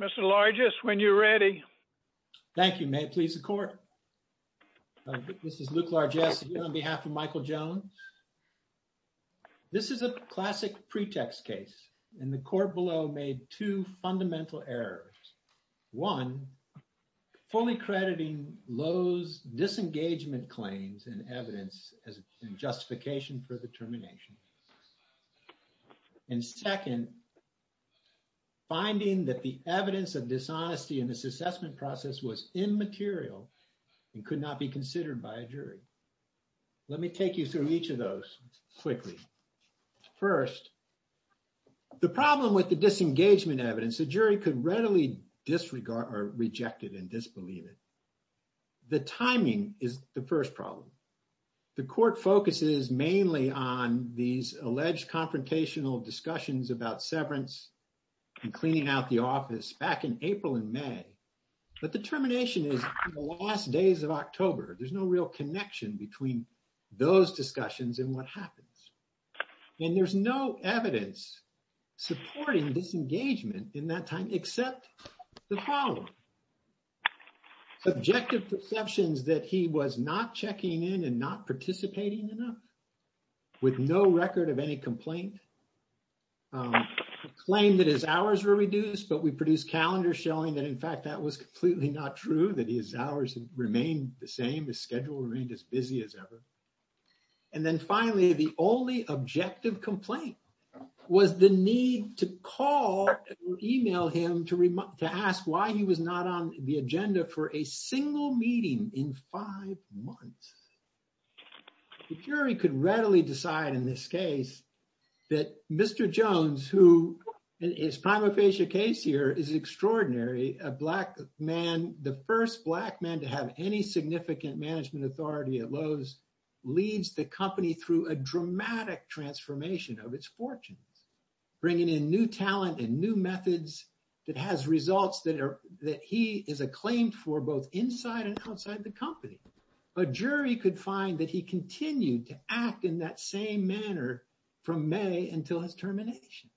Mr. Largess, when you're ready. Thank you. May it please the court. This is Luke Largess on behalf of Michael Jones. This is a classic pretext case, and the court below made two fundamental errors. One, fully crediting Lowe's disengagement claims and evidence as justification for the termination. And second, finding that the evidence of dishonesty in this assessment process was immaterial and could not be considered by a jury. Let me take you through each of those quickly. First, the problem with the disengagement evidence, the jury could readily disregard or reject it and disbelieve it. The timing is the first problem. The court focuses mainly on these alleged confrontational discussions about severance and cleaning out the office back in April and May. But the termination is the last days of October. There's no real connection between those discussions and what happens. And there's no evidence supporting disengagement in that time, except the following. Objective perceptions that he was not checking in and not participating enough, with no record of any complaint. Claimed that his hours were reduced, but we produced calendars showing that, in fact, that was completely not true, that his hours remained the same, his schedule remained as busy as ever. And then finally, the only objective complaint was the need to call or email him to ask why he was not on the agenda for a single meeting in five months. The jury could readily decide in this case that Mr. Jones, who in his prima facie case here, is extraordinary. A black man, the first black man to have any significant management authority at Lowe's, leads the company through a dramatic transformation of its fortunes. Bringing in new talent and new methods that has results that he is acclaimed for both inside and outside the company. A jury could find that he continued to act in that same manner from May until his termination.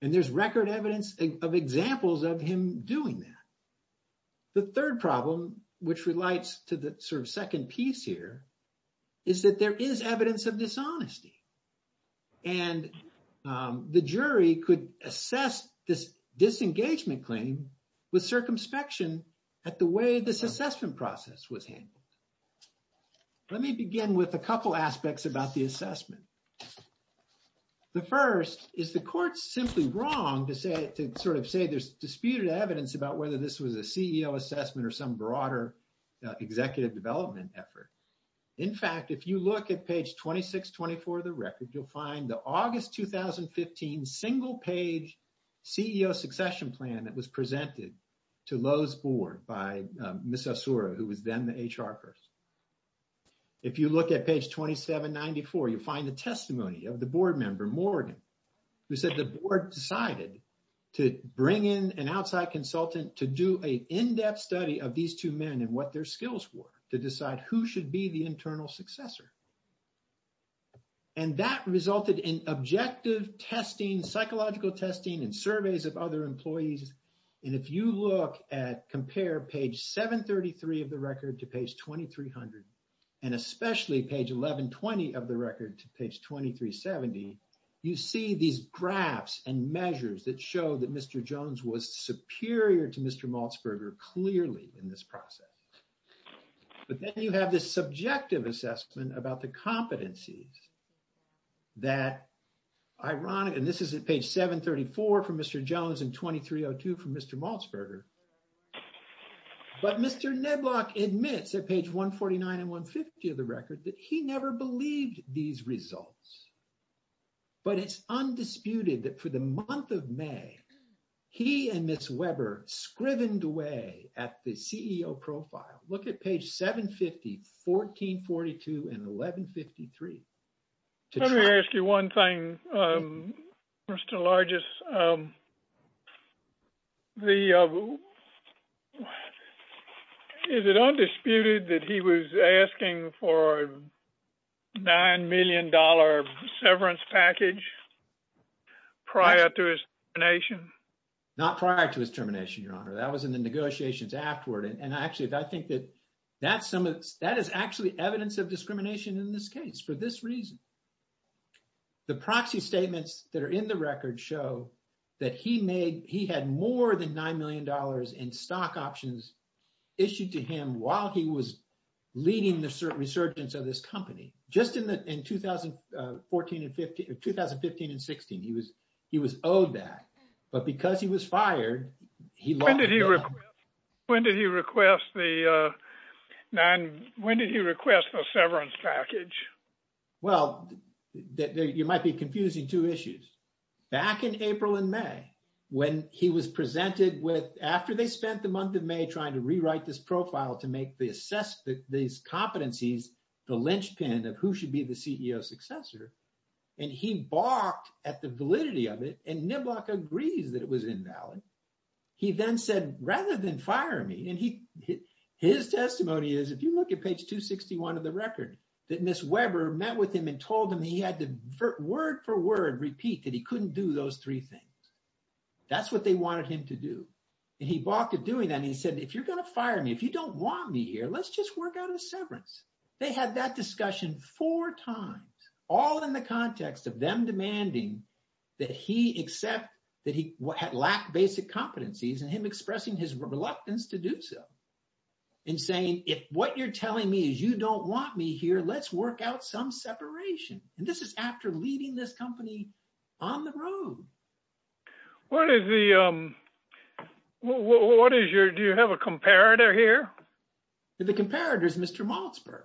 And there's record evidence of examples of him doing that. The third problem, which relates to the sort of second piece here, is that there is evidence of dishonesty. And the jury could assess this disengagement claim with circumspection at the way this assessment process was handled. Let me begin with a couple aspects about the assessment. The first is the court's simply wrong to sort of say there's disputed evidence about whether this was a CEO assessment or some broader executive development effort. In fact, if you look at page 2624 of the record, you'll find the August 2015 single page CEO succession plan that was presented to Lowe's board by Ms. Asura, who was then the HR person. If you look at page 2794, you'll find the testimony of the board member, Morgan, who said the board decided to bring in an outside consultant to do a in-depth study of these two men and what their skills were to decide who should be the internal successor. And that resulted in objective testing, psychological testing, and surveys of other employees. And if you look at compare page 733 of the record to page 2300, and especially page 1120 of the record to page 2370, you see these graphs and measures that show that Mr. Jones was superior to Mr. Malzberger clearly in this process. But then you have this subjective assessment about the competencies that, ironically, and this is at page 734 from Mr. Jones and 2302 from Mr. Malzberger. But Mr. Nedlock admits at page 149 and 150 of the record that he never believed these results. But it's undisputed that for the month of May, he and Ms. Weber scrivened away at the CEO profile. Look at page 750, 1442, and 1153. Let me ask you one thing, Mr. Larges. Is it undisputed that he was asking for a $9 million severance package prior to his termination? Not prior to his termination, Your Honor. That was in the negotiations afterward. And actually, I think that that is actually evidence of discrimination in this case for this reason. The proxy statements that are in the record show that he had more than $9 million in stock options issued to him while he was leading the resurgence of this company. Just in 2015 and 16, he was owed that. But because he was fired, he lost the money. When did he request the severance package? Well, you might be confusing two issues. Back in April and May, when he was presented with, after they spent the month of May trying to rewrite this profile to make these competencies the linchpin of who should be the CEO successor, and he balked at the validity of it, and Niblack agrees that it was invalid. He then said, rather than fire me, and his testimony is, if you look at page 261 of the record, that Ms. Weber met with him and told him he had to word for word repeat that he couldn't do those three things. That's what they wanted him to do. And he balked at doing that, and he said, if you're going to fire me, if you don't want me here, let's just work out a severance. They had that discussion four times, all in the context of them demanding that he accept that he lacked basic competencies and him expressing his reluctance to do so. And saying, if what you're telling me is you don't want me here, let's work out some separation. And this is after leading this company on the road. What is the, what is your, do you have a comparator here? The comparator is Mr. Malzberg.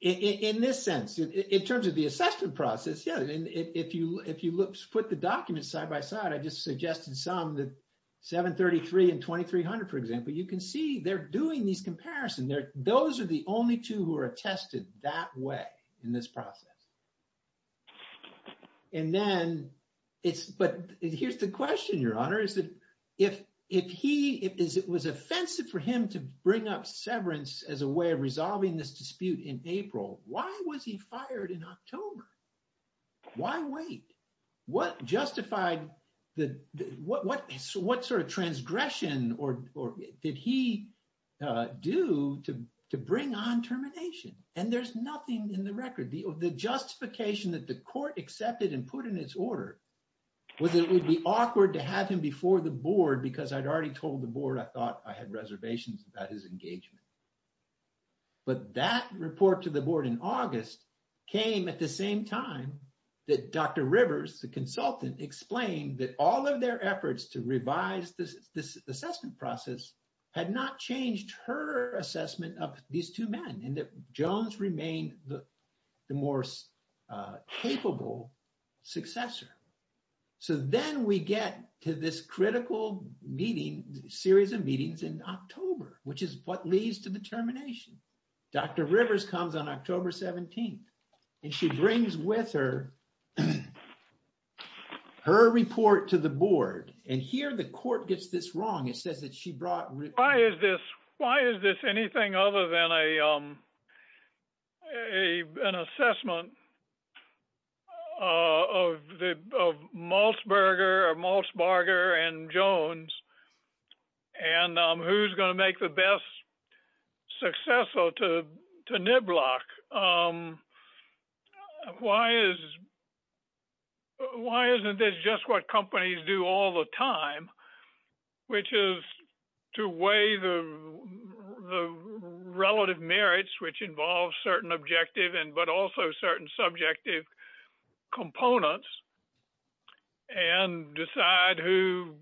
In this sense, in terms of the assessment process, yeah, if you put the documents side by side, I just suggested some, the 733 and 2300, for example, you can see they're doing these comparisons. Those are the only two who are attested that way in this process. And then it's, but here's the question, Your Honor, is that if he, if it was offensive for him to bring up severance as a way of resolving this dispute in April, why was he fired in October? Why wait? What justified, what sort of transgression did he do to bring on termination? And there's nothing in the record. The justification that the court accepted and put in its order was that it would be awkward to have him before the board because I'd already told the board I thought I had reservations about his engagement. But that report to the board in August came at the same time that Dr. Rivers, the consultant, explained that all of their efforts to revise this assessment process had not changed her assessment of these two men and that Jones remained the more capable successor. So then we get to this critical meeting, series of meetings in October, which is what leads to the termination. Dr. Rivers comes on October 17th, and she brings with her, her report to the board, and here the court gets this wrong. Why is this? Why is this anything other than an assessment of Maltzberger and Jones? And who's going to make the best successor to Niblack? Why isn't this just what companies do all the time, which is to weigh the relative merits, which involves certain objective and but also certain subjective components, and decide who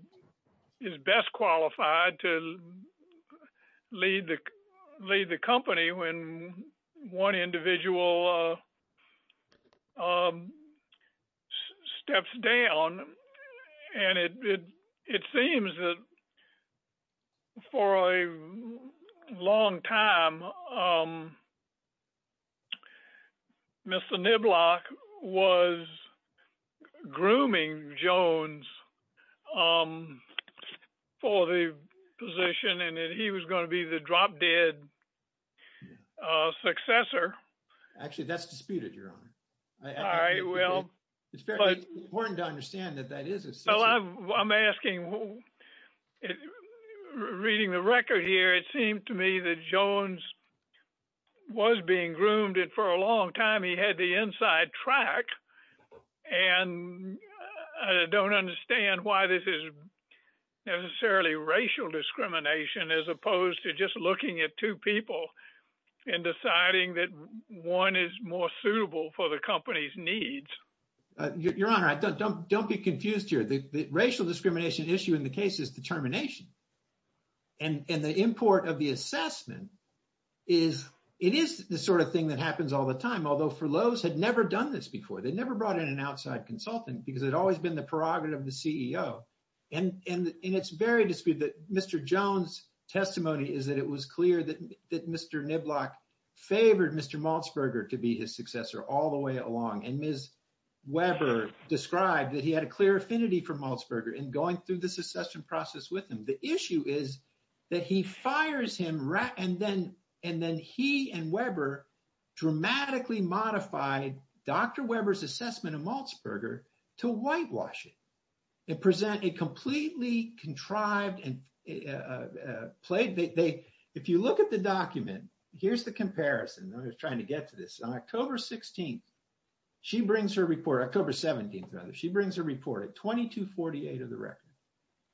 is best qualified to lead the company when one individual steps down. And it seems that for a long time, Mr. Niblack was grooming Jones for the position and he was going to be the drop dead successor. Actually, that's disputed, Your Honor. I will. It's important to understand that that is. I'm asking, reading the record here, it seemed to me that Jones was being groomed and for a long time he had the inside track. And I don't understand why this is necessarily racial discrimination as opposed to just looking at two people and deciding that one is more suitable for the company's needs. Your Honor, don't be confused here. The racial discrimination issue in the case is determination. And the import of the assessment is, it is the sort of thing that happens all the time. Although, Furloughs had never done this before. They never brought in an outside consultant because it had always been the prerogative of the CEO. And it's very disputed that Mr. Jones' testimony is that it was clear that Mr. Niblack favored Mr. Malzberger to be his successor all the way along. And Ms. Weber described that he had a clear affinity for Malzberger in going through this assessment process with him. The issue is that he fires him and then he and Weber dramatically modified Dr. Weber's assessment of Malzberger to whitewash it. It completely contrived and played. If you look at the document, here's the comparison. I was trying to get to this. On October 16th, she brings her report. October 17th, rather. She brings her report at 2248 of the record.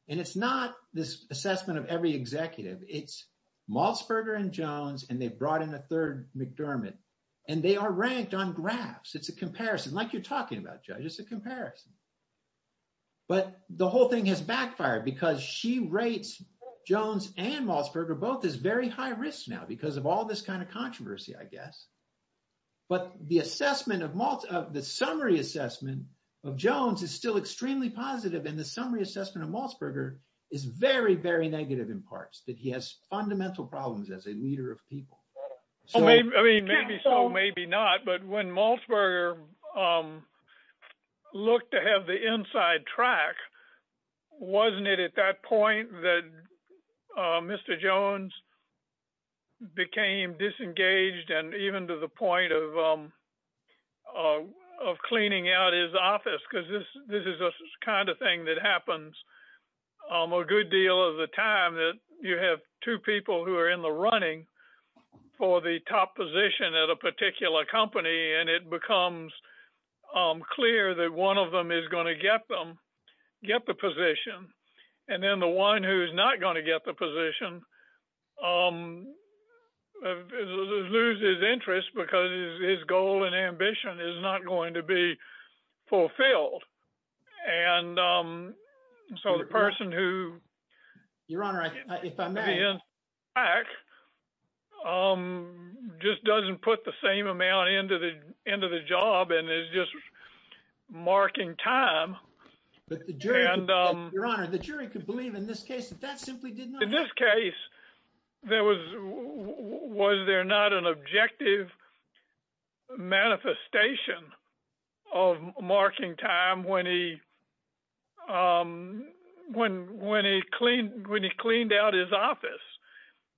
And it's not this assessment of every executive. It's Malzberger and Jones, and they brought in a third McDermott. And they are ranked on graphs. It's a comparison. But the whole thing has backfired because she rates Jones and Malzberger both as very high risk now because of all this kind of controversy, I guess. But the summary assessment of Jones is still extremely positive. And the summary assessment of Malzberger is very, very negative in parts, that he has fundamental problems as a leader of people. I mean, maybe so, maybe not. But when Malzberger looked to have the inside track, wasn't it at that point that Mr. Jones became disengaged and even to the point of cleaning out his office? Because this is the kind of thing that happens a good deal of the time, that you have two people who are in the running for the top position at a particular company, and it becomes clear that one of them is going to get the position. And then the one who is not going to get the position loses interest because his goal and ambition is not going to be fulfilled. And so the person who — Your Honor, if I may —— just doesn't put the same amount into the job and is just marking time. Your Honor, the jury could believe in this case that that simply did not happen. In this case, was there not an objective manifestation of marking time when he cleaned out his office?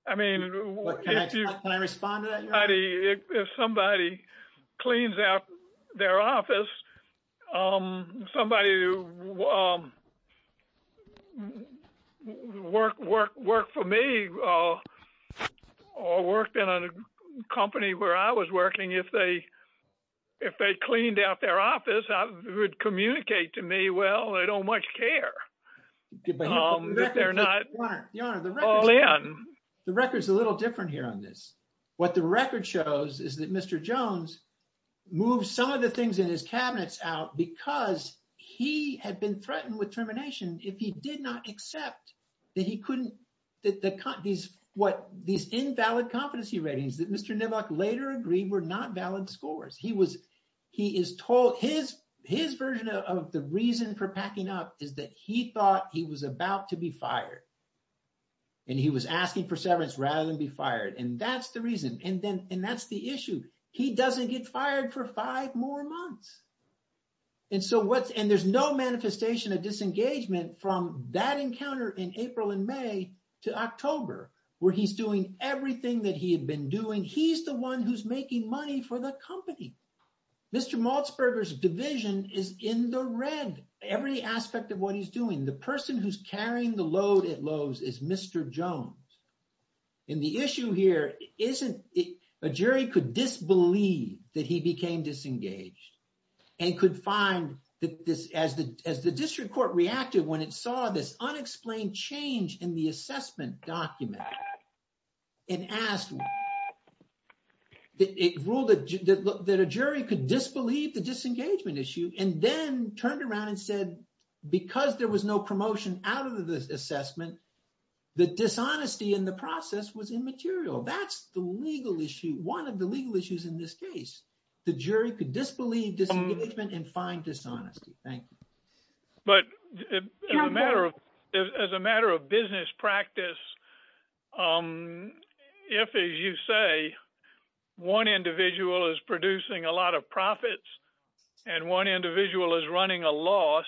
Can I respond to that, Your Honor? If somebody cleans out their office, somebody who worked for me or worked in a company where I was working, if they cleaned out their office, it would communicate to me, well, they don't much care. If they're not all in. The record is a little different here on this. What the record shows is that Mr. Jones moved some of the things in his cabinets out because he had been threatened with termination if he did not accept that he couldn't — these invalid competency ratings that Mr. Nivak later agreed were not valid scores. His version of the reason for packing up is that he thought he was about to be fired. And he was asking for severance rather than be fired. And that's the reason. And that's the issue. He doesn't get fired for five more months. And there's no manifestation of disengagement from that encounter in April and May to October where he's doing everything that he had been doing. He's the one who's making money for the company. Mr. Malzberger's division is in the red. Every aspect of what he's doing. The person who's carrying the load at Lowe's is Mr. Jones. And the issue here isn't — a jury could disbelieve that he became disengaged and could find that this — as the district court reacted when it saw this unexplained change in the assessment document and asked — it ruled that a jury could disbelieve the disengagement issue and then turned around and said because there was no promotion out of the assessment, that dishonesty in the process was immaterial. That's the legal issue. One of the legal issues in this case. The jury could disbelieve disengagement and find dishonesty. Thank you. As a matter of business practice, if, as you say, one individual is producing a lot of profits and one individual is running a loss,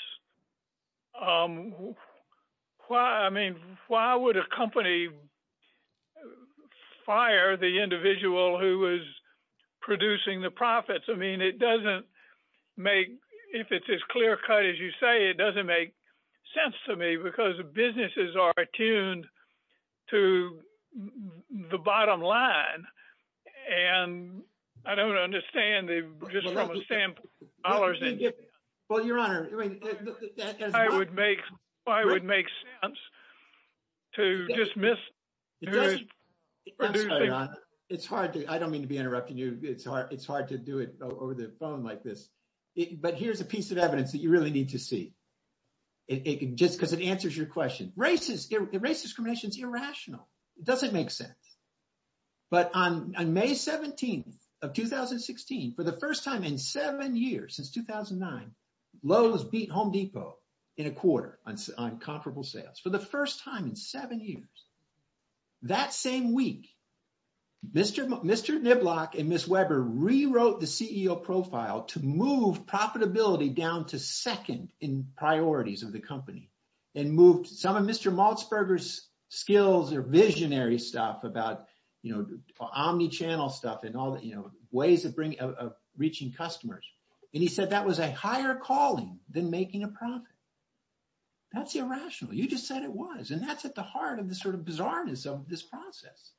I mean, why would a company fire the individual who is producing the profits? I mean, it doesn't make — if it's as clear-cut as you say, it doesn't make sense to me because the businesses are attuned to the bottom line. And I don't understand the — Well, your Honor — I would make sense to dismiss — It's hard to — I don't mean to be interrupting you. It's hard to do it over the phone like this. But here's a piece of evidence that you really need to see just because it answers your question. Racist — race discrimination is irrational. It doesn't make sense. But on May 17th of 2016, for the first time in seven years, since 2009, Lowe's beat Home Depot in a quarter on comparable sales, for the first time in seven years. That same week, Mr. Niblock and Ms. Weber rewrote the CEO profile to move profitability down to second in priorities of the company and moved some of Mr. Maltzberger's skills or visionary stuff about, you know, omnichannel stuff and all the, you know, ways of reaching customers. And he said that was a higher calling than making a profit. That's irrational. You just said it was. And that's at the heart of the sort of bizarreness of this process.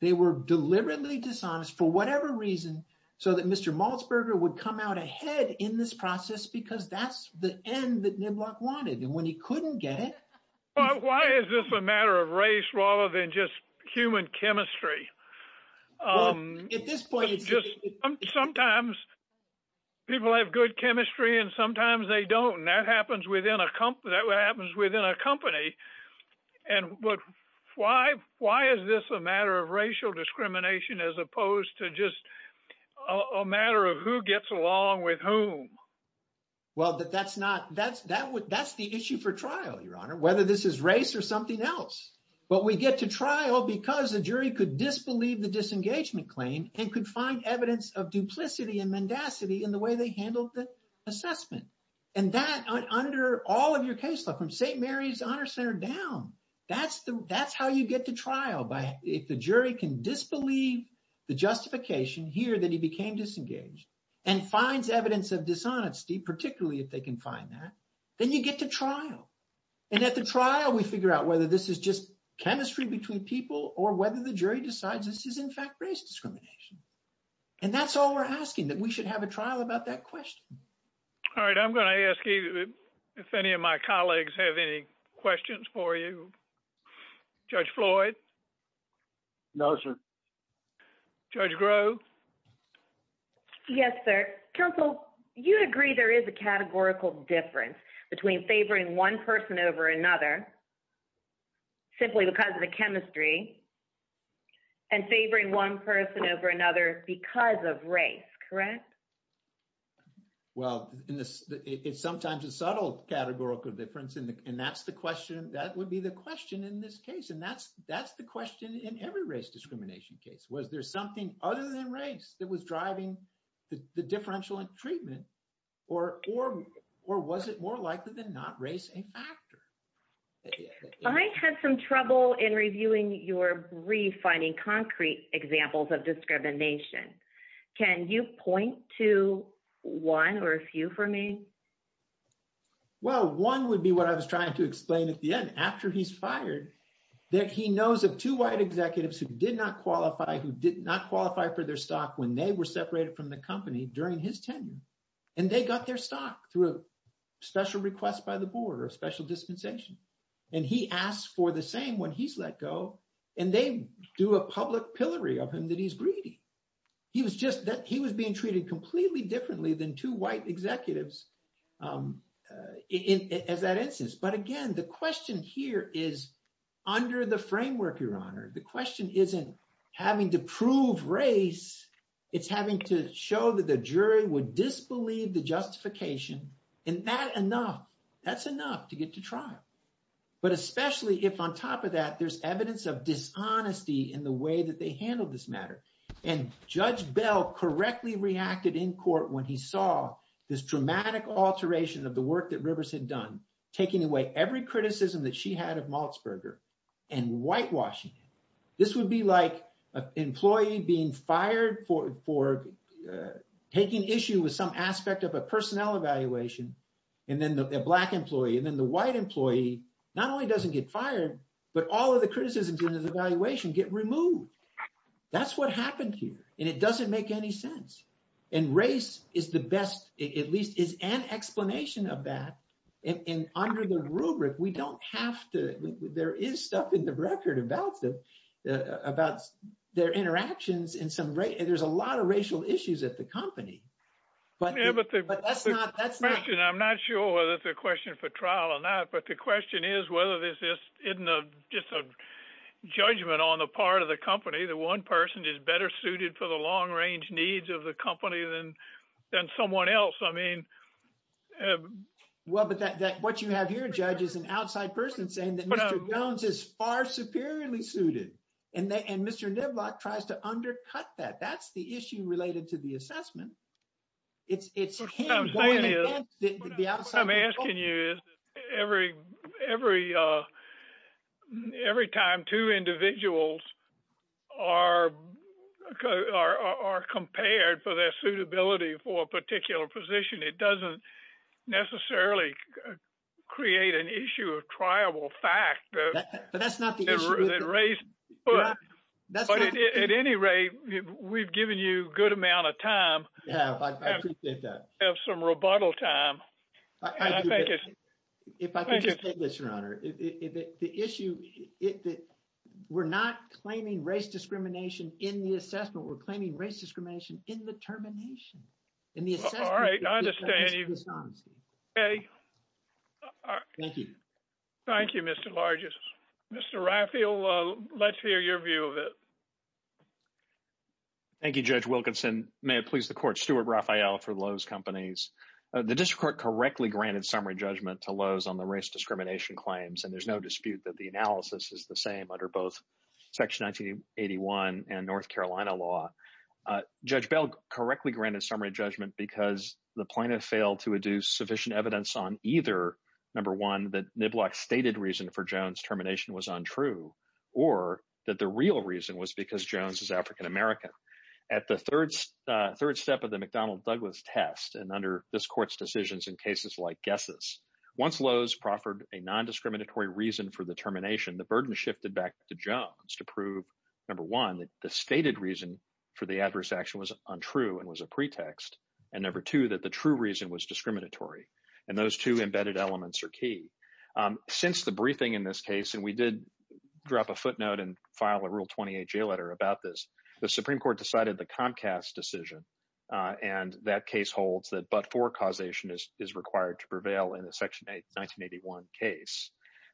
They were deliberately dishonest for whatever reason so that Mr. Maltzberger would come out ahead in this process because that's the end that Niblock wanted. And when he couldn't get it — Why is this a matter of race rather than just human chemistry? Well, at this point — Sometimes people have good chemistry and sometimes they don't. And that happens within a company. And why is this a matter of racial discrimination as opposed to just a matter of who gets along with whom? Well, that's not — that's the issue for trial, Your Honor, whether this is race or something else. But we get to trial because the jury could disbelieve the disengagement claim and could find evidence of duplicity and mendacity in the way they handled the assessment. And that, under all of your case law, from St. Mary's Honor Center down, that's how you get to trial. If the jury can disbelieve the justification here that he became disengaged and finds evidence of dishonesty, particularly if they can find that, then you get to trial. And at the trial, we figure out whether this is just chemistry between people or whether the jury decides this is, in fact, race discrimination. And that's all we're asking, that we should have a trial about that question. All right. I'm going to ask if any of my colleagues have any questions for you. Judge Floyd? No, sir. Judge Grove? Yes, sir. Counsel, you agree there is a categorical difference between favoring one person over another simply because of the chemistry and favoring one person over another because of race, correct? Well, it's sometimes a subtle categorical difference, and that's the question. That would be the question in this case, and that's the question in every race discrimination case. Was there something other than race that was driving the differential treatment, or was it more likely than not race a factor? I had some trouble in reviewing your brief finding concrete examples of discrimination. Can you point to one or a few for me? Well, one would be what I was trying to explain at the end. After he's fired, that he knows of two white executives who did not qualify, who did not qualify for their stock when they were separated from the company during his tenure. And they got their stock through a special request by the board or a special dispensation. And he asked for the same when he's let go, and they do a public pillory of him that he's greedy. He was being treated completely differently than two white executives as that instance. But again, the question here is under the framework, Your Honor, the question isn't having to prove race. It's having to show that the jury would disbelieve the justification. And that enough, that's enough to get to trial. But especially if on top of that, there's evidence of dishonesty in the way that they handled this matter. And Judge Bell correctly reacted in court when he saw this dramatic alteration of the work that Rivers had done, taking away every criticism that she had of Malzberger and whitewashing it. This would be like an employee being fired for taking issue with some aspect of a personnel evaluation. And then the black employee and then the white employee not only doesn't get fired, but all of the criticisms in his evaluation get removed. That's what happened here. And it doesn't make any sense. And race is the best, at least is an explanation of that. And under the rubric, we don't have to. There is stuff in the record about their interactions in some way. There's a lot of racial issues at the company. But that's not. I'm not sure whether it's a question for trial or not. But the question is whether this is just a judgment on the part of the company. The one person is better suited for the long range needs of the company than someone else. I mean. Well, but what you have here, Judge, is an outside person saying that Mr. Jones is far superiorly suited and Mr. Niblock tries to undercut that. That's the issue related to the assessment. It's him going against the outside. What I'm asking you is every time two individuals are compared for their suitability for a particular position, it doesn't necessarily create an issue of triable fact. But that's not the issue. That's what it is. At any rate, we've given you a good amount of time. Yeah, I appreciate that. Have some rebuttal time. I think it's. If I could just say this, Your Honor. The issue is that we're not claiming race discrimination in the assessment. We're claiming race discrimination in the termination in the assessment. All right. I understand you. OK. Thank you. Thank you, Mr. Larges. Mr. Raphael, let's hear your view of it. Thank you, Judge Wilkinson. May it please the court. Stuart Raphael for Lowe's Companies. The district court correctly granted summary judgment to Lowe's on the race discrimination claims. And there's no dispute that the analysis is the same under both Section 1981 and North Carolina law. Judge Bell correctly granted summary judgment because the plaintiff failed to adduce sufficient evidence on either. Number one, that Niblack stated reason for Jones termination was untrue or that the real reason was because Jones is African-American. At the third third step of the McDonnell Douglas test and under this court's decisions in cases like guesses, once Lowe's proffered a nondiscriminatory reason for the termination, the burden shifted back to Jones to prove, number one, that the stated reason for the adverse action was untrue and was a pretext. And number two, that the true reason was discriminatory. And those two embedded elements are key. Since the briefing in this case, and we did drop a footnote and file a Rule 28 jail letter about this, the Supreme Court decided the Comcast decision. And that case holds that but for causation is required to prevail in the Section 1981 case.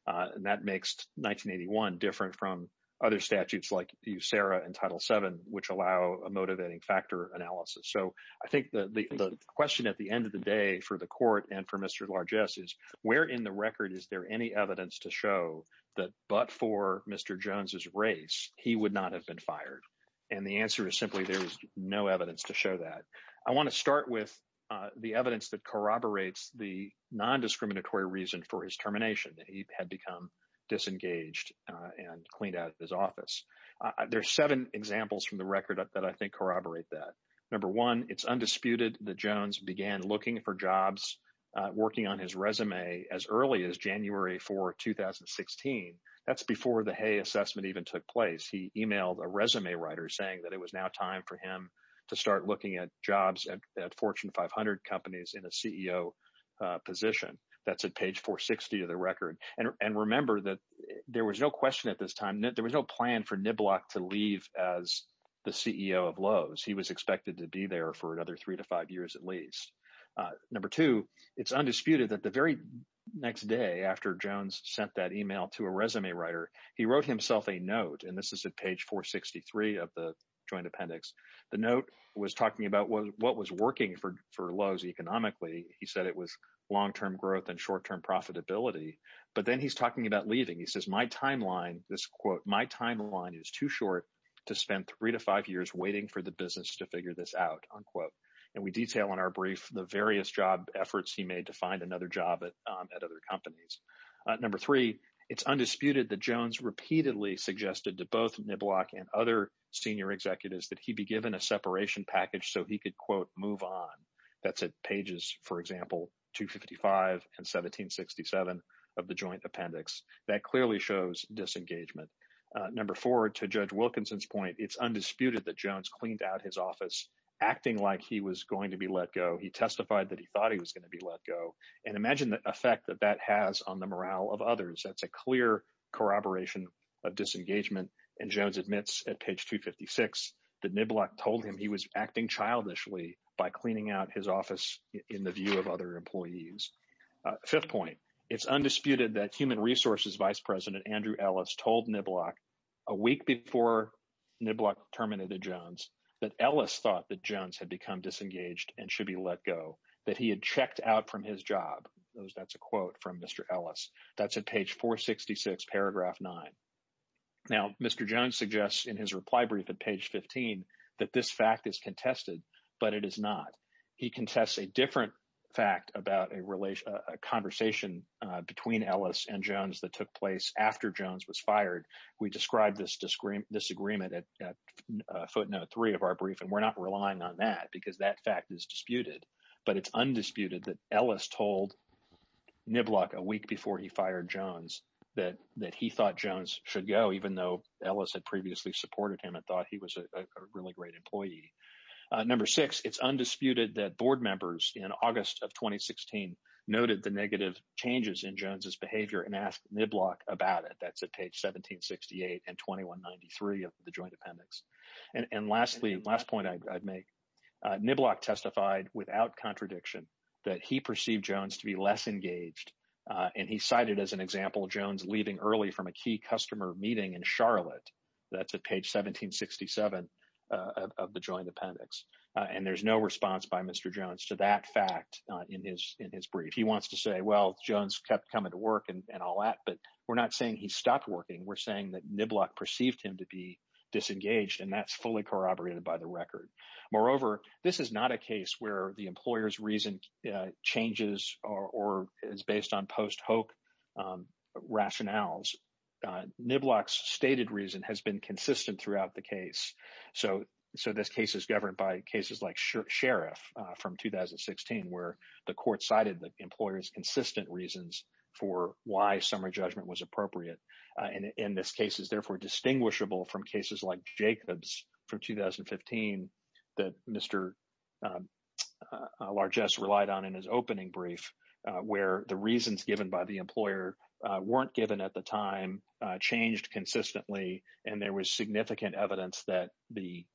And that makes 1981 different from other statutes like you, Sarah, and Title seven, which allow a motivating factor analysis. So I think the question at the end of the day for the court and for Mr. Largess is where in the record is there any evidence to show that but for Mr. Jones's race, he would not have been fired. And the answer is simply there is no evidence to show that. I want to start with the evidence that corroborates the nondiscriminatory reason for his termination. He had become disengaged and cleaned out of his office. There are seven examples from the record that I think corroborate that. Number one, it's undisputed that Jones began looking for jobs, working on his resume as early as January 4, 2016. That's before the Hay assessment even took place. He emailed a resume writer saying that it was now time for him to start looking at jobs at Fortune 500 companies in a CEO position. That's at page 460 of the record. And remember that there was no question at this time that there was no plan for Niblack to leave as the CEO of Lowe's. He was expected to be there for another three to five years at least. Number two, it's undisputed that the very next day after Jones sent that email to a resume writer, he wrote himself a note. And this is at page 463 of the joint appendix. The note was talking about what was working for Lowe's economically. He said it was long-term growth and short-term profitability. But then he's talking about leaving. He says, my timeline, this quote, my timeline is too short to spend three to five years waiting for the business to figure this out, unquote. And we detail in our brief the various job efforts he made to find another job at other companies. Number three, it's undisputed that Jones repeatedly suggested to both Niblack and other senior executives that he be given a separation package so he could, quote, move on. That's at pages, for example, 255 and 1767 of the joint appendix. That clearly shows disengagement. Number four, to Judge Wilkinson's point, it's undisputed that Jones cleaned out his office acting like he was going to be let go. He testified that he thought he was going to be let go. And imagine the effect that that has on the morale of others. That's a clear corroboration of disengagement. And Jones admits at page 256 that Niblack told him he was acting childishly by cleaning out his office in the view of other employees. Fifth point, it's undisputed that Human Resources Vice President Andrew Ellis told Niblack a week before Niblack terminated Jones that Ellis thought that Jones had become disengaged and should be let go, that he had checked out from his job. That's a quote from Mr. Ellis. That's at page 466, paragraph 9. Now, Mr. Jones suggests in his reply brief at page 15 that this fact is contested, but it is not. He contests a different fact about a conversation between Ellis and Jones that took place after Jones was fired. We described this disagreement at footnote three of our brief, and we're not relying on that because that fact is disputed. But it's undisputed that Ellis told Niblack a week before he fired Jones that he thought Jones should go, even though Ellis had previously supported him and thought he was a really great employee. Number six, it's undisputed that board members in August of 2016 noted the negative changes in Jones's behavior and asked Niblack about it. That's at page 1768 and 2193 of the joint appendix. And lastly, last point I'd make, Niblack testified without contradiction that he perceived Jones to be less engaged. And he cited as an example Jones leaving early from a key customer meeting in Charlotte. That's at page 1767 of the joint appendix. And there's no response by Mr. Jones to that fact in his brief. He wants to say, well, Jones kept coming to work and all that, but we're not saying he stopped working. We're saying that Niblack perceived him to be disengaged, and that's fully corroborated by the record. Moreover, this is not a case where the employer's reason changes or is based on post-hoc rationales. Niblack's stated reason has been consistent throughout the case. So this case is governed by cases like Sheriff from 2016, where the court cited the employer's consistent reasons for why summer judgment was appropriate. And this case is therefore distinguishable from cases like Jacobs from 2015 that Mr. Largesse relied on in his opening brief, where the reasons given by the employer weren't given at the time, changed consistently, and there was significant evidence that the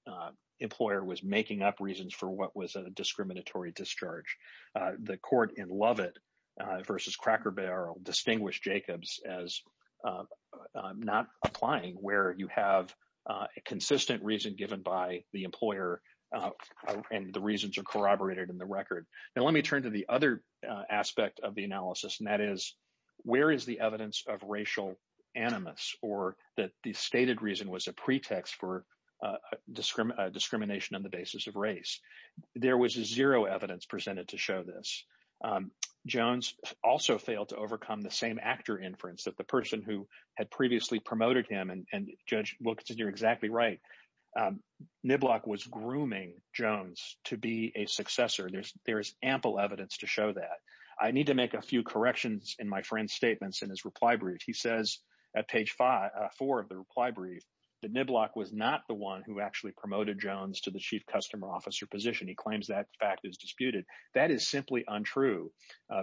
employer was making up reasons for what was a discriminatory discharge. The court in Lovett versus Cracker Barrel distinguished Jacobs as not applying, where you have a consistent reason given by the employer and the reasons are corroborated in the record. Now, let me turn to the other aspect of the analysis, and that is, where is the evidence of racial animus, or that the stated reason was a pretext for discrimination on the basis of race? There was zero evidence presented to show this. Jones also failed to overcome the same actor inference that the person who had previously promoted him, and Judge Wilkinson, you're exactly right, Niblack was grooming Jones to be a successor. There is ample evidence to show that. I need to make a few corrections in my friend's statements in his reply brief. He says at page four of the reply brief that Niblack was not the one who actually promoted Jones to the chief customer officer position. He claims that fact is disputed. That is simply untrue.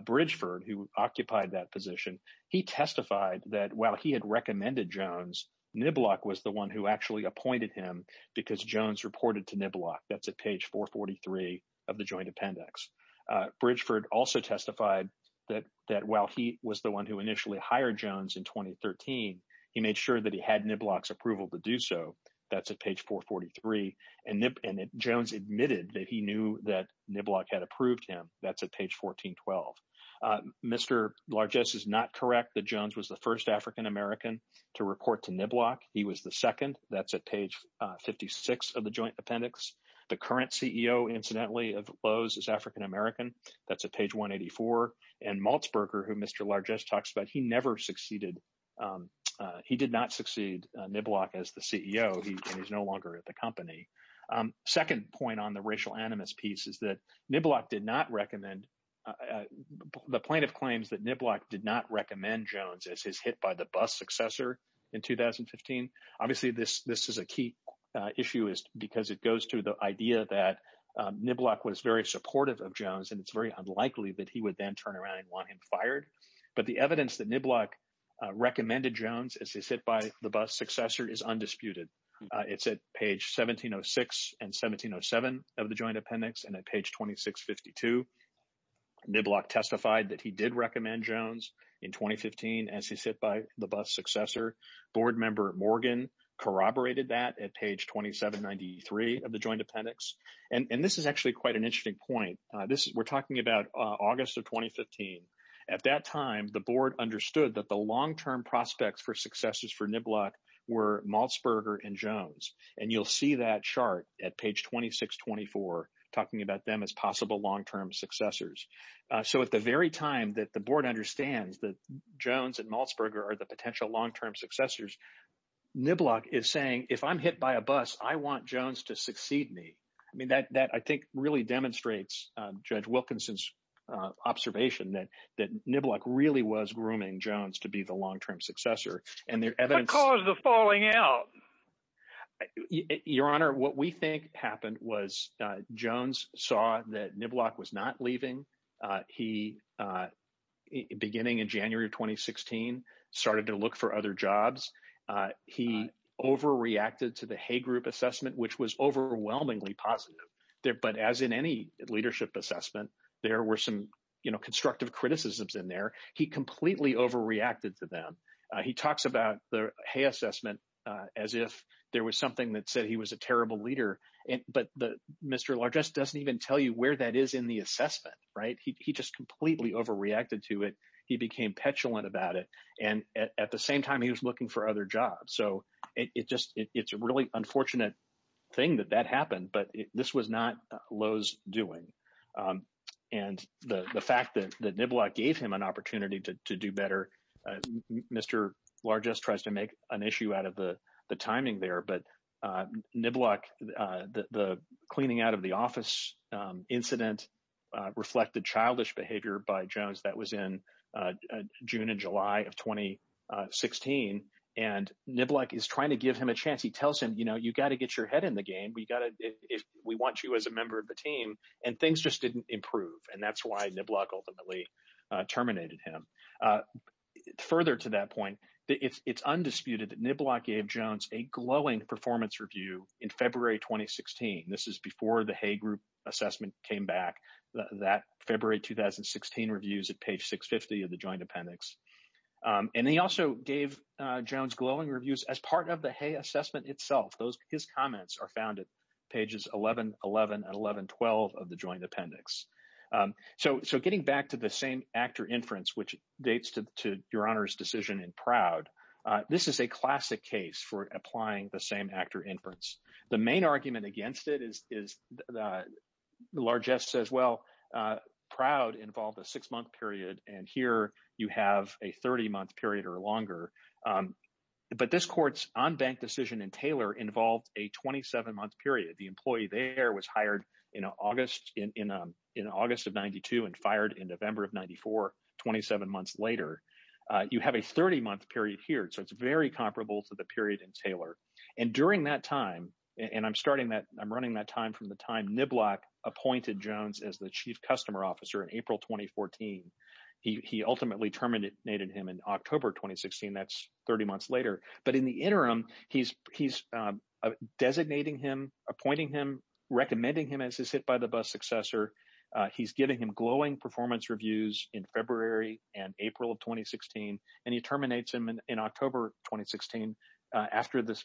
Bridgeford, who occupied that position, he testified that while he had recommended Jones, Niblack was the one who actually appointed him because Jones reported to Niblack. That's at page 443 of the joint appendix. Bridgeford also testified that while he was the one who initially hired Jones in 2013, he made sure that he had Niblack's approval to do so. That's at page 443. And Jones admitted that he knew that Niblack had approved him. That's at page 1412. Mr. Largesse is not correct that Jones was the first African-American to report to Niblack. He was the second. That's at page 56 of the joint appendix. The current CEO, incidentally, of Lowe's is African-American. That's at page 184. And Malzberger, who Mr. Largesse talks about, he never succeeded. He did not succeed Niblack as the CEO. He is no longer at the company. Second point on the racial animus piece is that Niblack did not recommend the plaintiff claims that Niblack did not recommend Jones as his hit by the bus successor in 2015. Obviously, this is a key issue because it goes to the idea that Niblack was very supportive of Jones, and it's very unlikely that he would then turn around and want him fired. But the evidence that Niblack recommended Jones as his hit by the bus successor is undisputed. It's at page 1706 and 1707 of the joint appendix and at page 2652. Niblack testified that he did recommend Jones in 2015 as his hit by the bus successor. Board member Morgan corroborated that at page 2793 of the joint appendix. And this is actually quite an interesting point. We're talking about August of 2015. At that time, the board understood that the long-term prospects for successes for Niblack were Malzberger and Jones. And you'll see that chart at page 2624 talking about them as possible long-term successors. So at the very time that the board understands that Jones and Malzberger are the potential long-term successors, Niblack is saying, if I'm hit by a bus, I want Jones to succeed me. I mean, that I think really demonstrates Judge Wilkinson's observation that that Niblack really was grooming Jones to be the long-term successor. And their evidence. What caused the falling out? Your Honor, what we think happened was Jones saw that Niblack was not leaving. He, beginning in January of 2016, started to look for other jobs. He overreacted to the Hay Group assessment, which was overwhelmingly positive there. But as in any leadership assessment, there were some constructive criticisms in there. He completely overreacted to them. He talks about the Hay assessment as if there was something that said he was a terrible leader. But Mr. Largest doesn't even tell you where that is in the assessment. Right. He just completely overreacted to it. He became petulant about it. And at the same time, he was looking for other jobs. So it just it's a really unfortunate thing that that happened. But this was not Lowe's doing. And the fact that Niblack gave him an opportunity to do better. Mr. Largest tries to make an issue out of the timing there. But Niblack, the cleaning out of the office incident reflected childish behavior by Jones. That was in June and July of 2016. And Niblack is trying to give him a chance. He tells him, you know, you've got to get your head in the game. We want you as a member of the team. And things just didn't improve. And that's why Niblack ultimately terminated him. Further to that point, it's undisputed that Niblack gave Jones a glowing performance review in February 2016. This is before the Hay group assessment came back that February 2016 reviews at page 650 of the joint appendix. And he also gave Jones glowing reviews as part of the Hay assessment itself. Those his comments are found at pages 11, 11 and 11, 12 of the joint appendix. So. So getting back to the same actor inference, which dates to your honor's decision in Proud. This is a classic case for applying the same actor inference. The main argument against it is is the largest as well. Proud involved a six month period. And here you have a 30 month period or longer. But this court's on bank decision in Taylor involved a 27 month period. The employee there was hired in August in August of 92 and fired in November of 94. Twenty seven months later, you have a 30 month period here. So it's very comparable to the period in Taylor. And during that time. And I'm starting that I'm running that time from the time Niblack appointed Jones as the chief customer officer in April 2014. He ultimately terminated him in October 2016. That's 30 months later. But in the interim, he's he's designating him, appointing him, recommending him as his hit by the bus successor. He's giving him glowing performance reviews in February and April of 2016. And he terminates him in October 2016 after the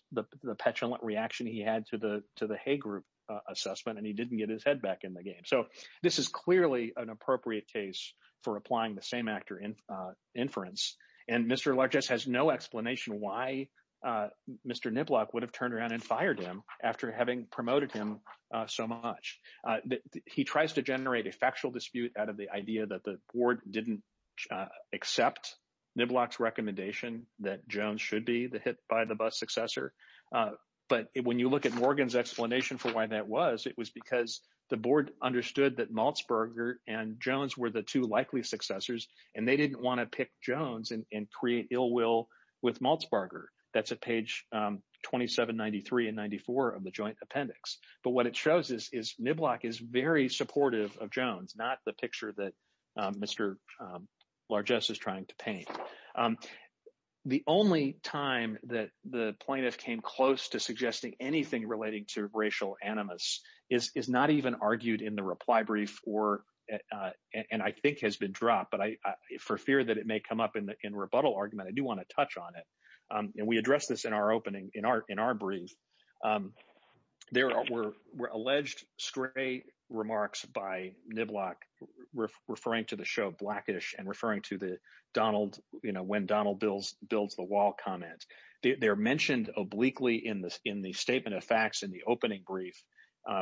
petulant reaction he had to the to the Hay group assessment. And he didn't get his head back in the game. So this is clearly an appropriate case for applying the same actor in inference. And Mr. Largess has no explanation why Mr. Niblack would have turned around and fired him after having promoted him so much. He tries to generate a factual dispute out of the idea that the board didn't accept Niblack's recommendation that Jones should be the hit by the bus successor. But when you look at Morgan's explanation for why that was, it was because the board understood that Malzberger and Jones were the two likely successors. And they didn't want to pick Jones and create ill will with Malzberger. That's a page twenty seven, ninety three and ninety four of the joint appendix. But what it shows is is Niblack is very supportive of Jones, not the picture that Mr. Largess is trying to paint. The only time that the plaintiff came close to suggesting anything relating to racial animus is not even argued in the reply brief or and I think has been dropped. But I for fear that it may come up in the in rebuttal argument, I do want to touch on it. And we address this in our opening, in our in our brief. There were alleged stray remarks by Niblack referring to the show Blackish and referring to the Donald, you know, when Donald builds, builds the wall comment. They're mentioned obliquely in this in the statement of facts in the opening brief.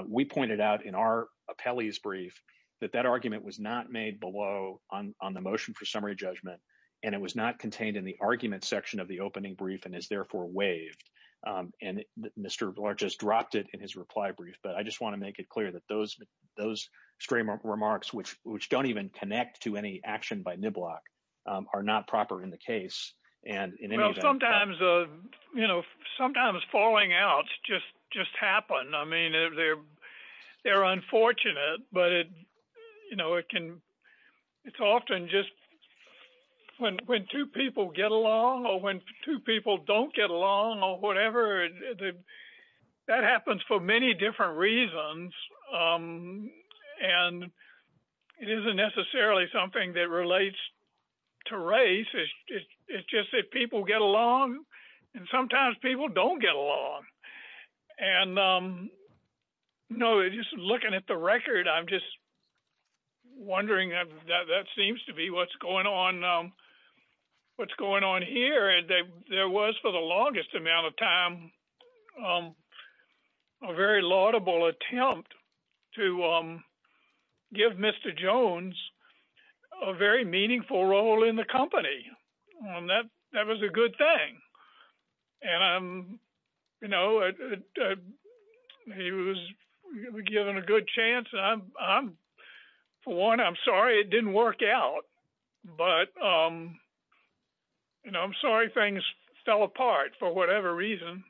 We pointed out in our appellee's brief that that argument was not made below on the motion for summary judgment. And it was not contained in the argument section of the opening brief and is therefore waived. And Mr. Largess dropped it in his reply brief. But I just want to make it clear that those those remarks, which which don't even connect to any action by Niblack, are not proper in the case. And sometimes, you know, sometimes falling outs just just happen. I mean, they're they're unfortunate. But, you know, it can it's often just when when two people get along or when two people don't get along or whatever, that happens for many different reasons. And it isn't necessarily something that relates to race. It's just that people get along and sometimes people don't get along. And, you know, just looking at the record, I'm just wondering that that seems to be what's going on, what's going on here. There was for the longest amount of time a very laudable attempt to give Mr. Jones a very meaningful role in the company. And that that was a good thing. And, you know, he was given a good chance. For one, I'm sorry it didn't work out. But, you know, I'm sorry things fell apart for whatever reason.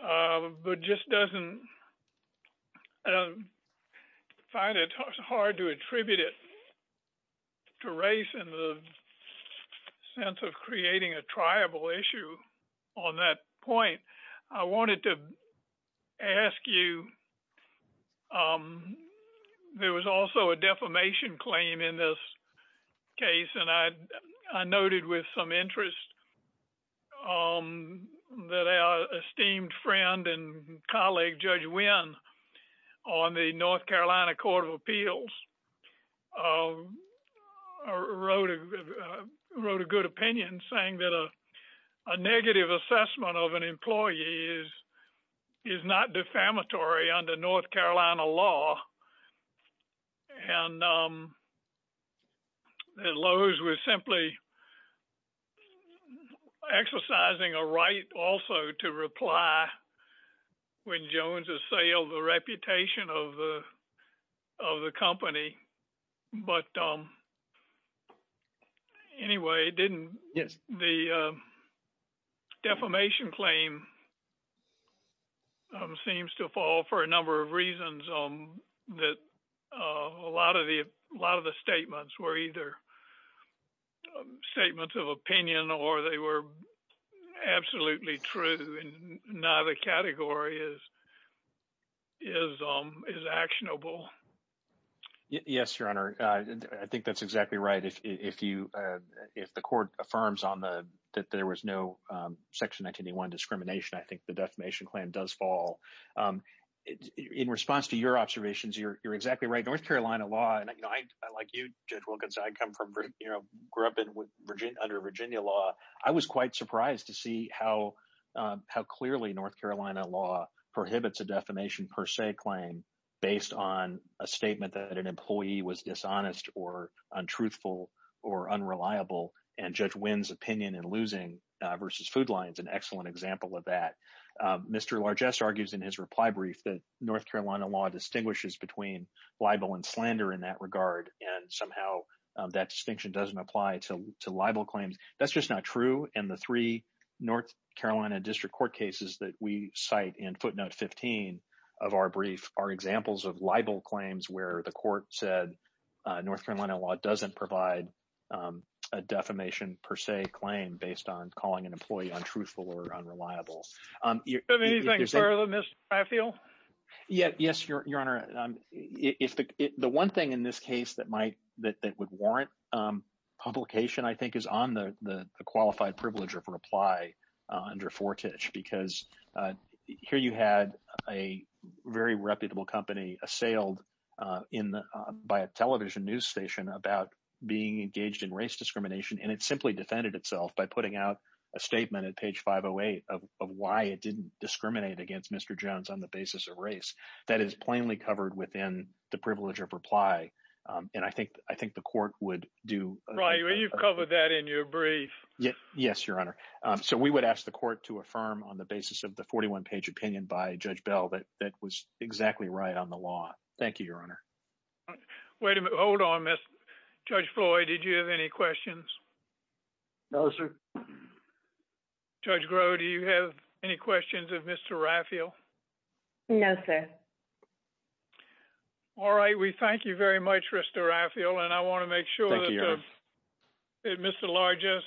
But just doesn't find it hard to attribute it to race and the sense of creating a tribal issue on that point. I wanted to ask you. There was also a defamation claim in this case. And I noted with some interest that our esteemed friend and colleague Judge Wynn on the North Carolina Court of Appeals wrote a good opinion saying that a negative assessment of an employee is not defamatory under North Carolina law. And Lowe's was simply exercising a right also to reply when Jones assailed the reputation of the company. But anyway, didn't the defamation claim seems to fall for a number of reasons that a lot of the a lot of the statements were either statements of opinion or they were absolutely true and not a category is is is actionable. Yes, Your Honor, I think that's exactly right. If you if the court affirms on the that there was no Section 91 discrimination, I think the defamation claim does fall in response to your observations. You're exactly right. North Carolina law. And I like you, Judge Wilkins. I come from, you know, grew up in Virginia under Virginia law. I was quite surprised to see how how clearly North Carolina law prohibits a defamation per se claim based on a statement that an employee was dishonest or untruthful or unreliable. And Judge Wynn's opinion and losing versus food lines, an excellent example of that. Mr. Largesse argues in his reply brief that North Carolina law distinguishes between libel and slander in that regard. And somehow that distinction doesn't apply to libel claims. That's just not true. And the three North Carolina district court cases that we cite in footnote 15 of our brief are examples of libel claims where the court said North Carolina law doesn't provide a defamation per se claim based on calling an employee untruthful or unreliable. Anything further, Mr. Raphael? Yes, Your Honor. The one thing in this case that might that would warrant publication, I think, is on the qualified privilege of reply under Fortich, because here you had a very reputable company assailed in by a television news station about being engaged in race discrimination. And it simply defended itself by putting out a statement at page 508 of why it didn't discriminate against Mr. Jones on the basis of race. That is plainly covered within the privilege of reply. And I think I think the court would do right. You've covered that in your brief. Yes, Your Honor. So we would ask the court to affirm on the basis of the 41 page opinion by Judge Bell that that was exactly right on the law. Thank you, Your Honor. Wait a minute. Hold on, Judge Floyd. Did you have any questions? No, sir. Judge Groh, do you have any questions of Mr. Raphael? No, sir. All right. We thank you very much, Mr. Raphael. And I want to make sure that Mr. Largess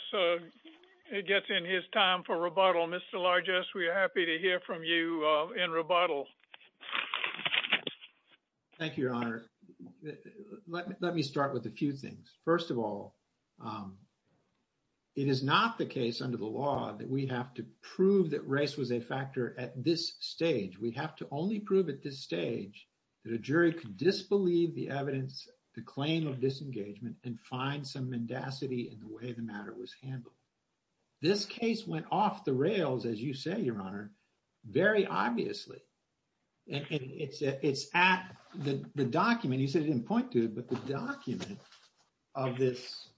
gets in his time for rebuttal. Mr. Largess, we are happy to hear from you in rebuttal. Thank you, Your Honor. Let me start with a few things. First of all, it is not the case under the law that we have to prove that race was a factor at this stage. We have to only prove at this stage that a jury could disbelieve the evidence, the claim of disengagement and find some mendacity in the way the matter was handled. This case went off the rails, as you say, Your Honor, very obviously. And it's at the document. You said you didn't point to it, but the document of this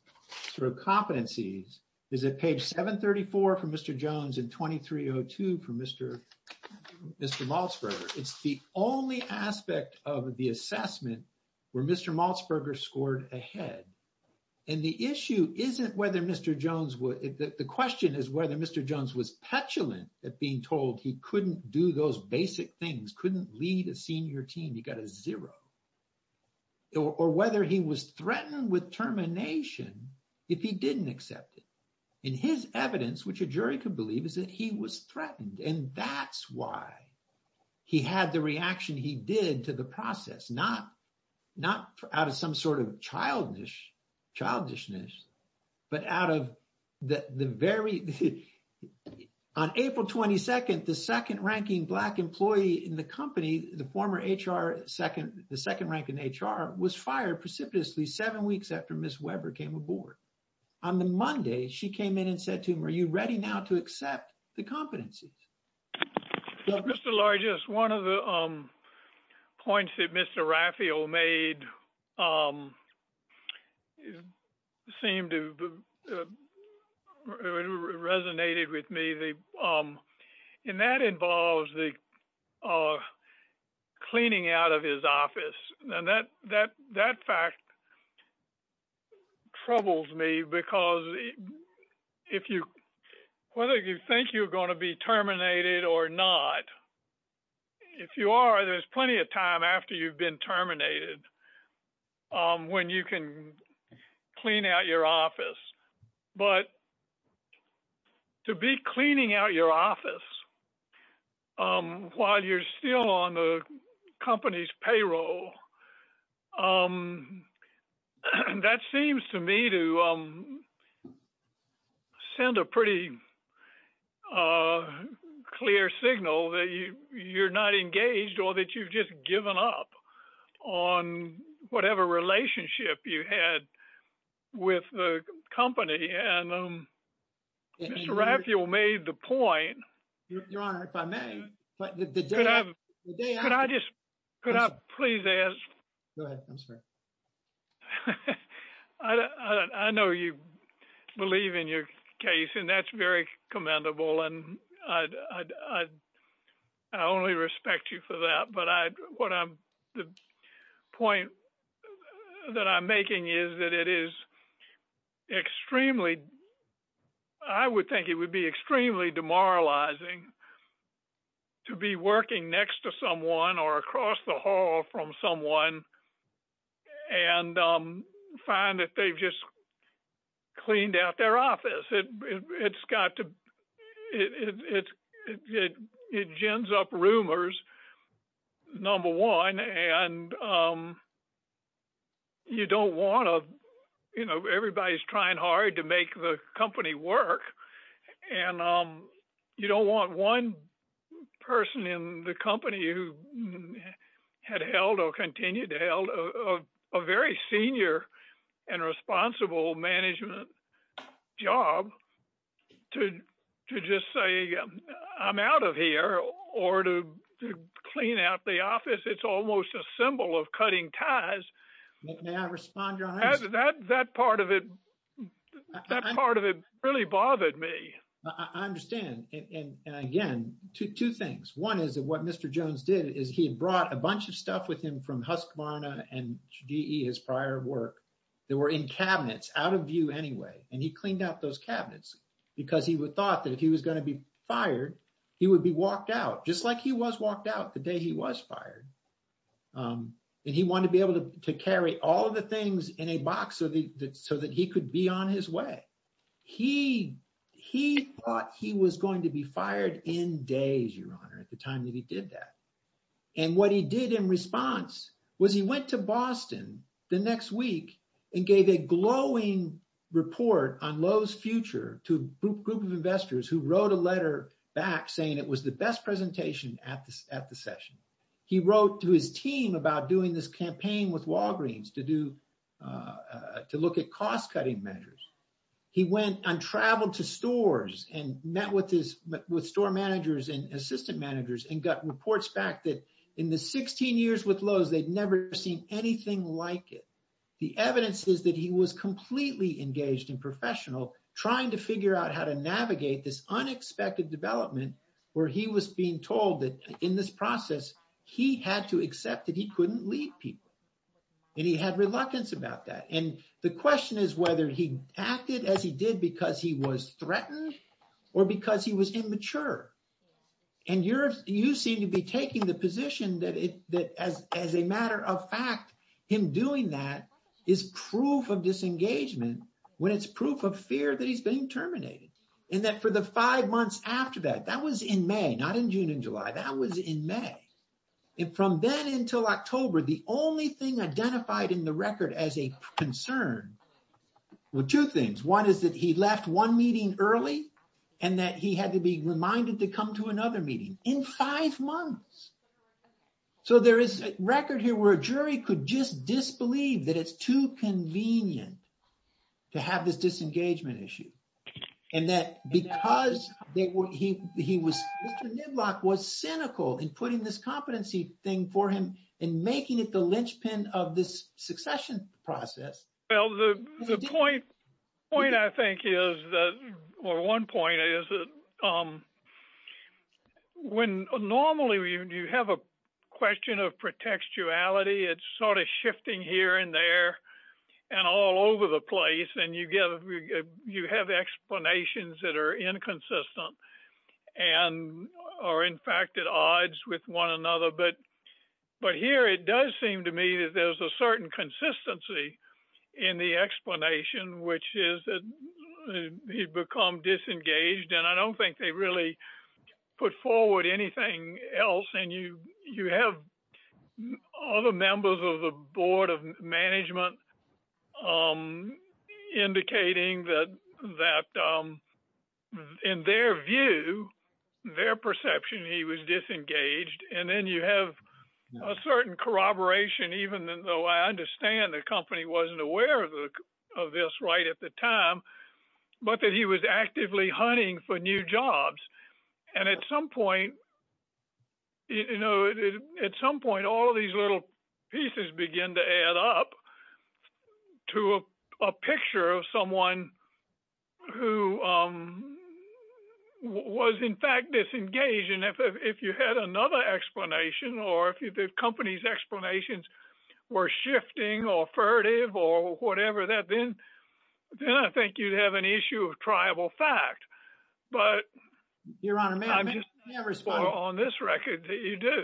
sort of competencies is at page 734 for Mr. Jones and 2302 for Mr. Maltzberger. It's the only aspect of the assessment where Mr. Maltzberger scored ahead. And the issue isn't whether Mr. Jones, the question is whether Mr. Jones was petulant at being told he couldn't do those basic things, couldn't lead a senior team, he got a zero, or whether he was threatened with termination if he didn't accept it. In his evidence, which a jury could believe, is that he was threatened. And that's why he had the reaction he did to the process, not out of some sort of childishness, but out of the very — on April 22nd, the second-ranking Black employee in the company, the former HR second — the second-ranking HR, was fired precipitously seven weeks after Ms. Weber came aboard. And that's why she came in and said to him, Are you ready now to accept the competencies? Whether you think you're going to be terminated or not, if you are, there's plenty of time after you've been terminated when you can clean out your office. But to be cleaning out your office while you're still on the company's payroll, that seems to me to send a pretty clear signal that you're not engaged or that you've just given up on whatever relationship you had with the company. And Mr. Raphael made the point — Your Honor, if I may — Could I just — could I please ask — Go ahead. I'm sorry. I would think it would be extremely demoralizing to be working next to someone or across the hall from someone and find that they've just cleaned out their office. It's got to — it gins up rumors, number one. And you don't want to — you know, everybody's trying hard to make the company work. And you don't want one person in the company who had held or continued to held a very senior and responsible management job to just say, I'm out of here or to clean out the office. It's almost a symbol of cutting ties. May I respond, Your Honor? That part of it really bothered me. I understand. And again, two things. One is that what Mr. Jones did is he had brought a bunch of stuff with him from Husqvarna and GE, his prior work, that were in cabinets out of view anyway. And he cleaned out those cabinets because he thought that if he was going to be fired, he would be walked out, just like he was walked out the day he was fired. And he wanted to be able to carry all of the things in a box so that he could be on his way. He thought he was going to be fired in days, Your Honor, at the time that he did that. And what he did in response was he went to Boston the next week and gave a glowing report on Lowe's future to a group of investors who wrote a letter back saying it was the best presentation at the session. He wrote to his team about doing this campaign with Walgreens to look at cost-cutting measures. He went and traveled to stores and met with store managers and assistant managers and got reports back that in the 16 years with Lowe's, they'd never seen anything like it. The evidence is that he was completely engaged and professional, trying to figure out how to navigate this unexpected development where he was being told that in this process, he had to accept that he couldn't lead people. And he had reluctance about that. And the question is whether he acted as he did because he was threatened or because he was immature. And you seem to be taking the position that as a matter of fact, him doing that is proof of disengagement when it's proof of fear that he's being terminated. And that for the five months after that, that was in May, not in June and July. That was in May. And from then until October, the only thing identified in the record as a concern were two things. One is that he left one meeting early and that he had to be reminded to come to another meeting in five months. So there is a record here where a jury could just disbelieve that it's too convenient to have this disengagement issue. And that because Mr. Niblock was cynical in putting this competency thing for him and making it the linchpin of this succession process. Well, the point I think is or one point is that when normally you have a question of protectuality, it's sort of shifting here and there and all over the place. And you have explanations that are inconsistent and are in fact at odds with one another. But here it does seem to me that there's a certain consistency in the explanation, which is that he's become disengaged. And I don't think they really put forward anything else. And you have all the members of the Board of Management indicating that in their view, their perception, he was disengaged. And then you have a certain corroboration, even though I understand the company wasn't aware of this right at the time, but that he was actively hunting for new jobs. And at some point, you know, at some point, all of these little pieces begin to add up to a picture of someone who was in fact disengaged. And if you had another explanation or if the company's explanations were shifting or furtive or whatever, then I think you'd have an issue of tribal fact. But I'm just not sure on this record that you do.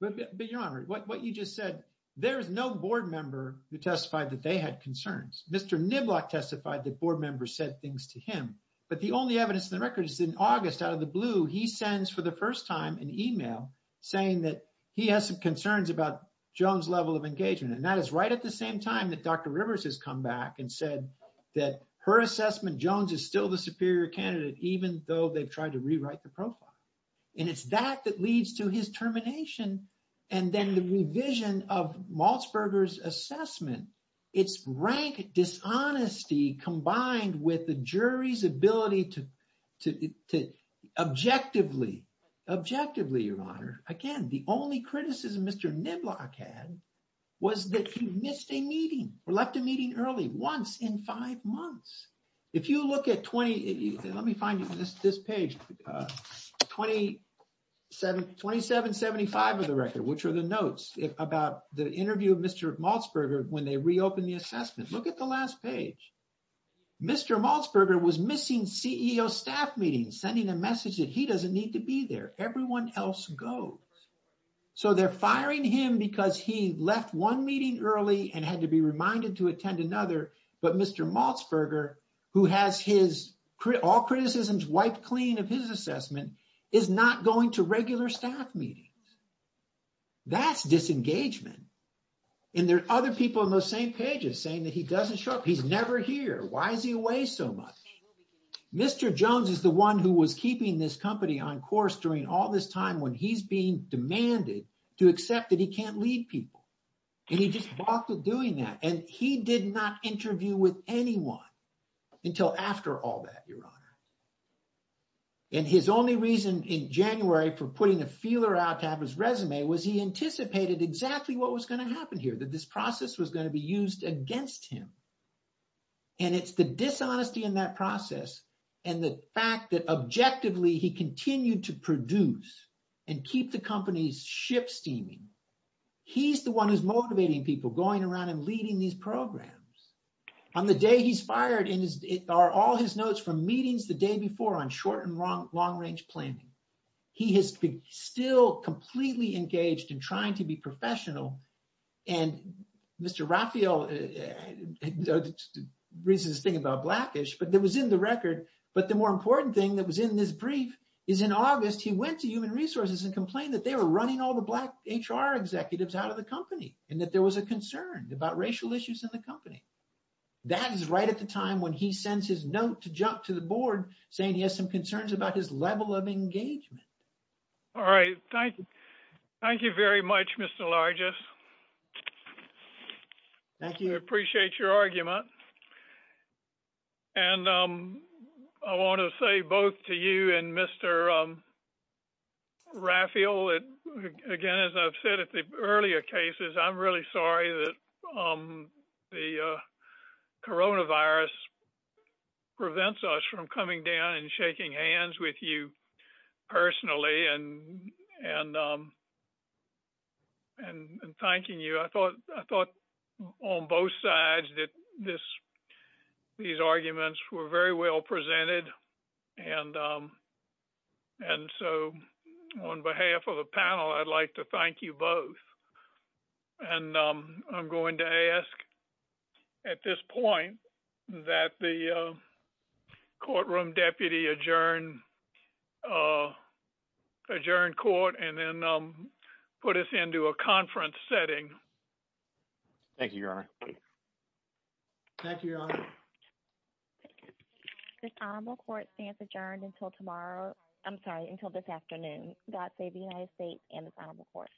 But Your Honor, what you just said, there is no board member who testified that they had concerns. Mr. Niblock testified that board members said things to him. But the only evidence in the record is in August out of the blue, he sends for the first time an email saying that he has some concerns about Jones' level of engagement. And that is right at the same time that Dr. Rivers has come back and said that her assessment, Jones is still the superior candidate, even though they've tried to rewrite the profile. And it's that that leads to his termination. And then the revision of Malzberger's assessment, it's rank dishonesty combined with the jury's ability to objectively, objectively, Your Honor, again, the only criticism Mr. Niblock had was that he missed a meeting or left a meeting early once in five months. If you look at 20, let me find this page, 2775 of the record, which are the notes about the interview of Mr. Malzberger when they reopened the assessment. Look at the last page. Mr. Malzberger was missing CEO staff meetings, sending a message that he doesn't need to be there. Everyone else goes. So they're firing him because he left one meeting early and had to be reminded to attend another. But Mr. Malzberger, who has all criticisms wiped clean of his assessment, is not going to regular staff meetings. That's disengagement. And there are other people in those same pages saying that he doesn't show up. He's never here. Why is he away so much? Mr. Jones is the one who was keeping this company on course during all this time when he's being demanded to accept that he can't lead people. And he just walked with doing that. And he did not interview with anyone until after all that, Your Honor. And his only reason in January for putting a feeler out to have his resume was he anticipated exactly what was going to happen here, that this process was going to be used against him. And it's the dishonesty in that process and the fact that objectively he continued to produce and keep the company's ship steaming. He's the one who's motivating people going around and leading these programs. On the day he's fired are all his notes from meetings the day before on short and long-range planning. He has been still completely engaged in trying to be professional. And Mr. Raphael raises this thing about blackish, but that was in the record. But the more important thing that was in this brief is in August he went to human resources and complained that they were running all the black HR executives out of the company and that there was a concern about racial issues in the company. That is right at the time when he sends his note to jump to the board saying he has some concerns about his level of engagement. All right. Thank you. Thank you very much, Mr. Largess. Thank you. Appreciate your argument. And I want to say both to you and Mr. Raphael, again, as I've said at the earlier cases, I'm really sorry that the coronavirus prevents us from coming down and shaking hands with you personally and and thanking you. I thought I thought on both sides that this these arguments were very well presented. And and so on behalf of the panel, I'd like to thank you both. And I'm going to ask at this point that the courtroom deputy adjourn adjourn court and then put us into a conference setting. Thank you. Thank you. The court stands adjourned until tomorrow. I'm sorry. Until this afternoon. God save the United States and the court.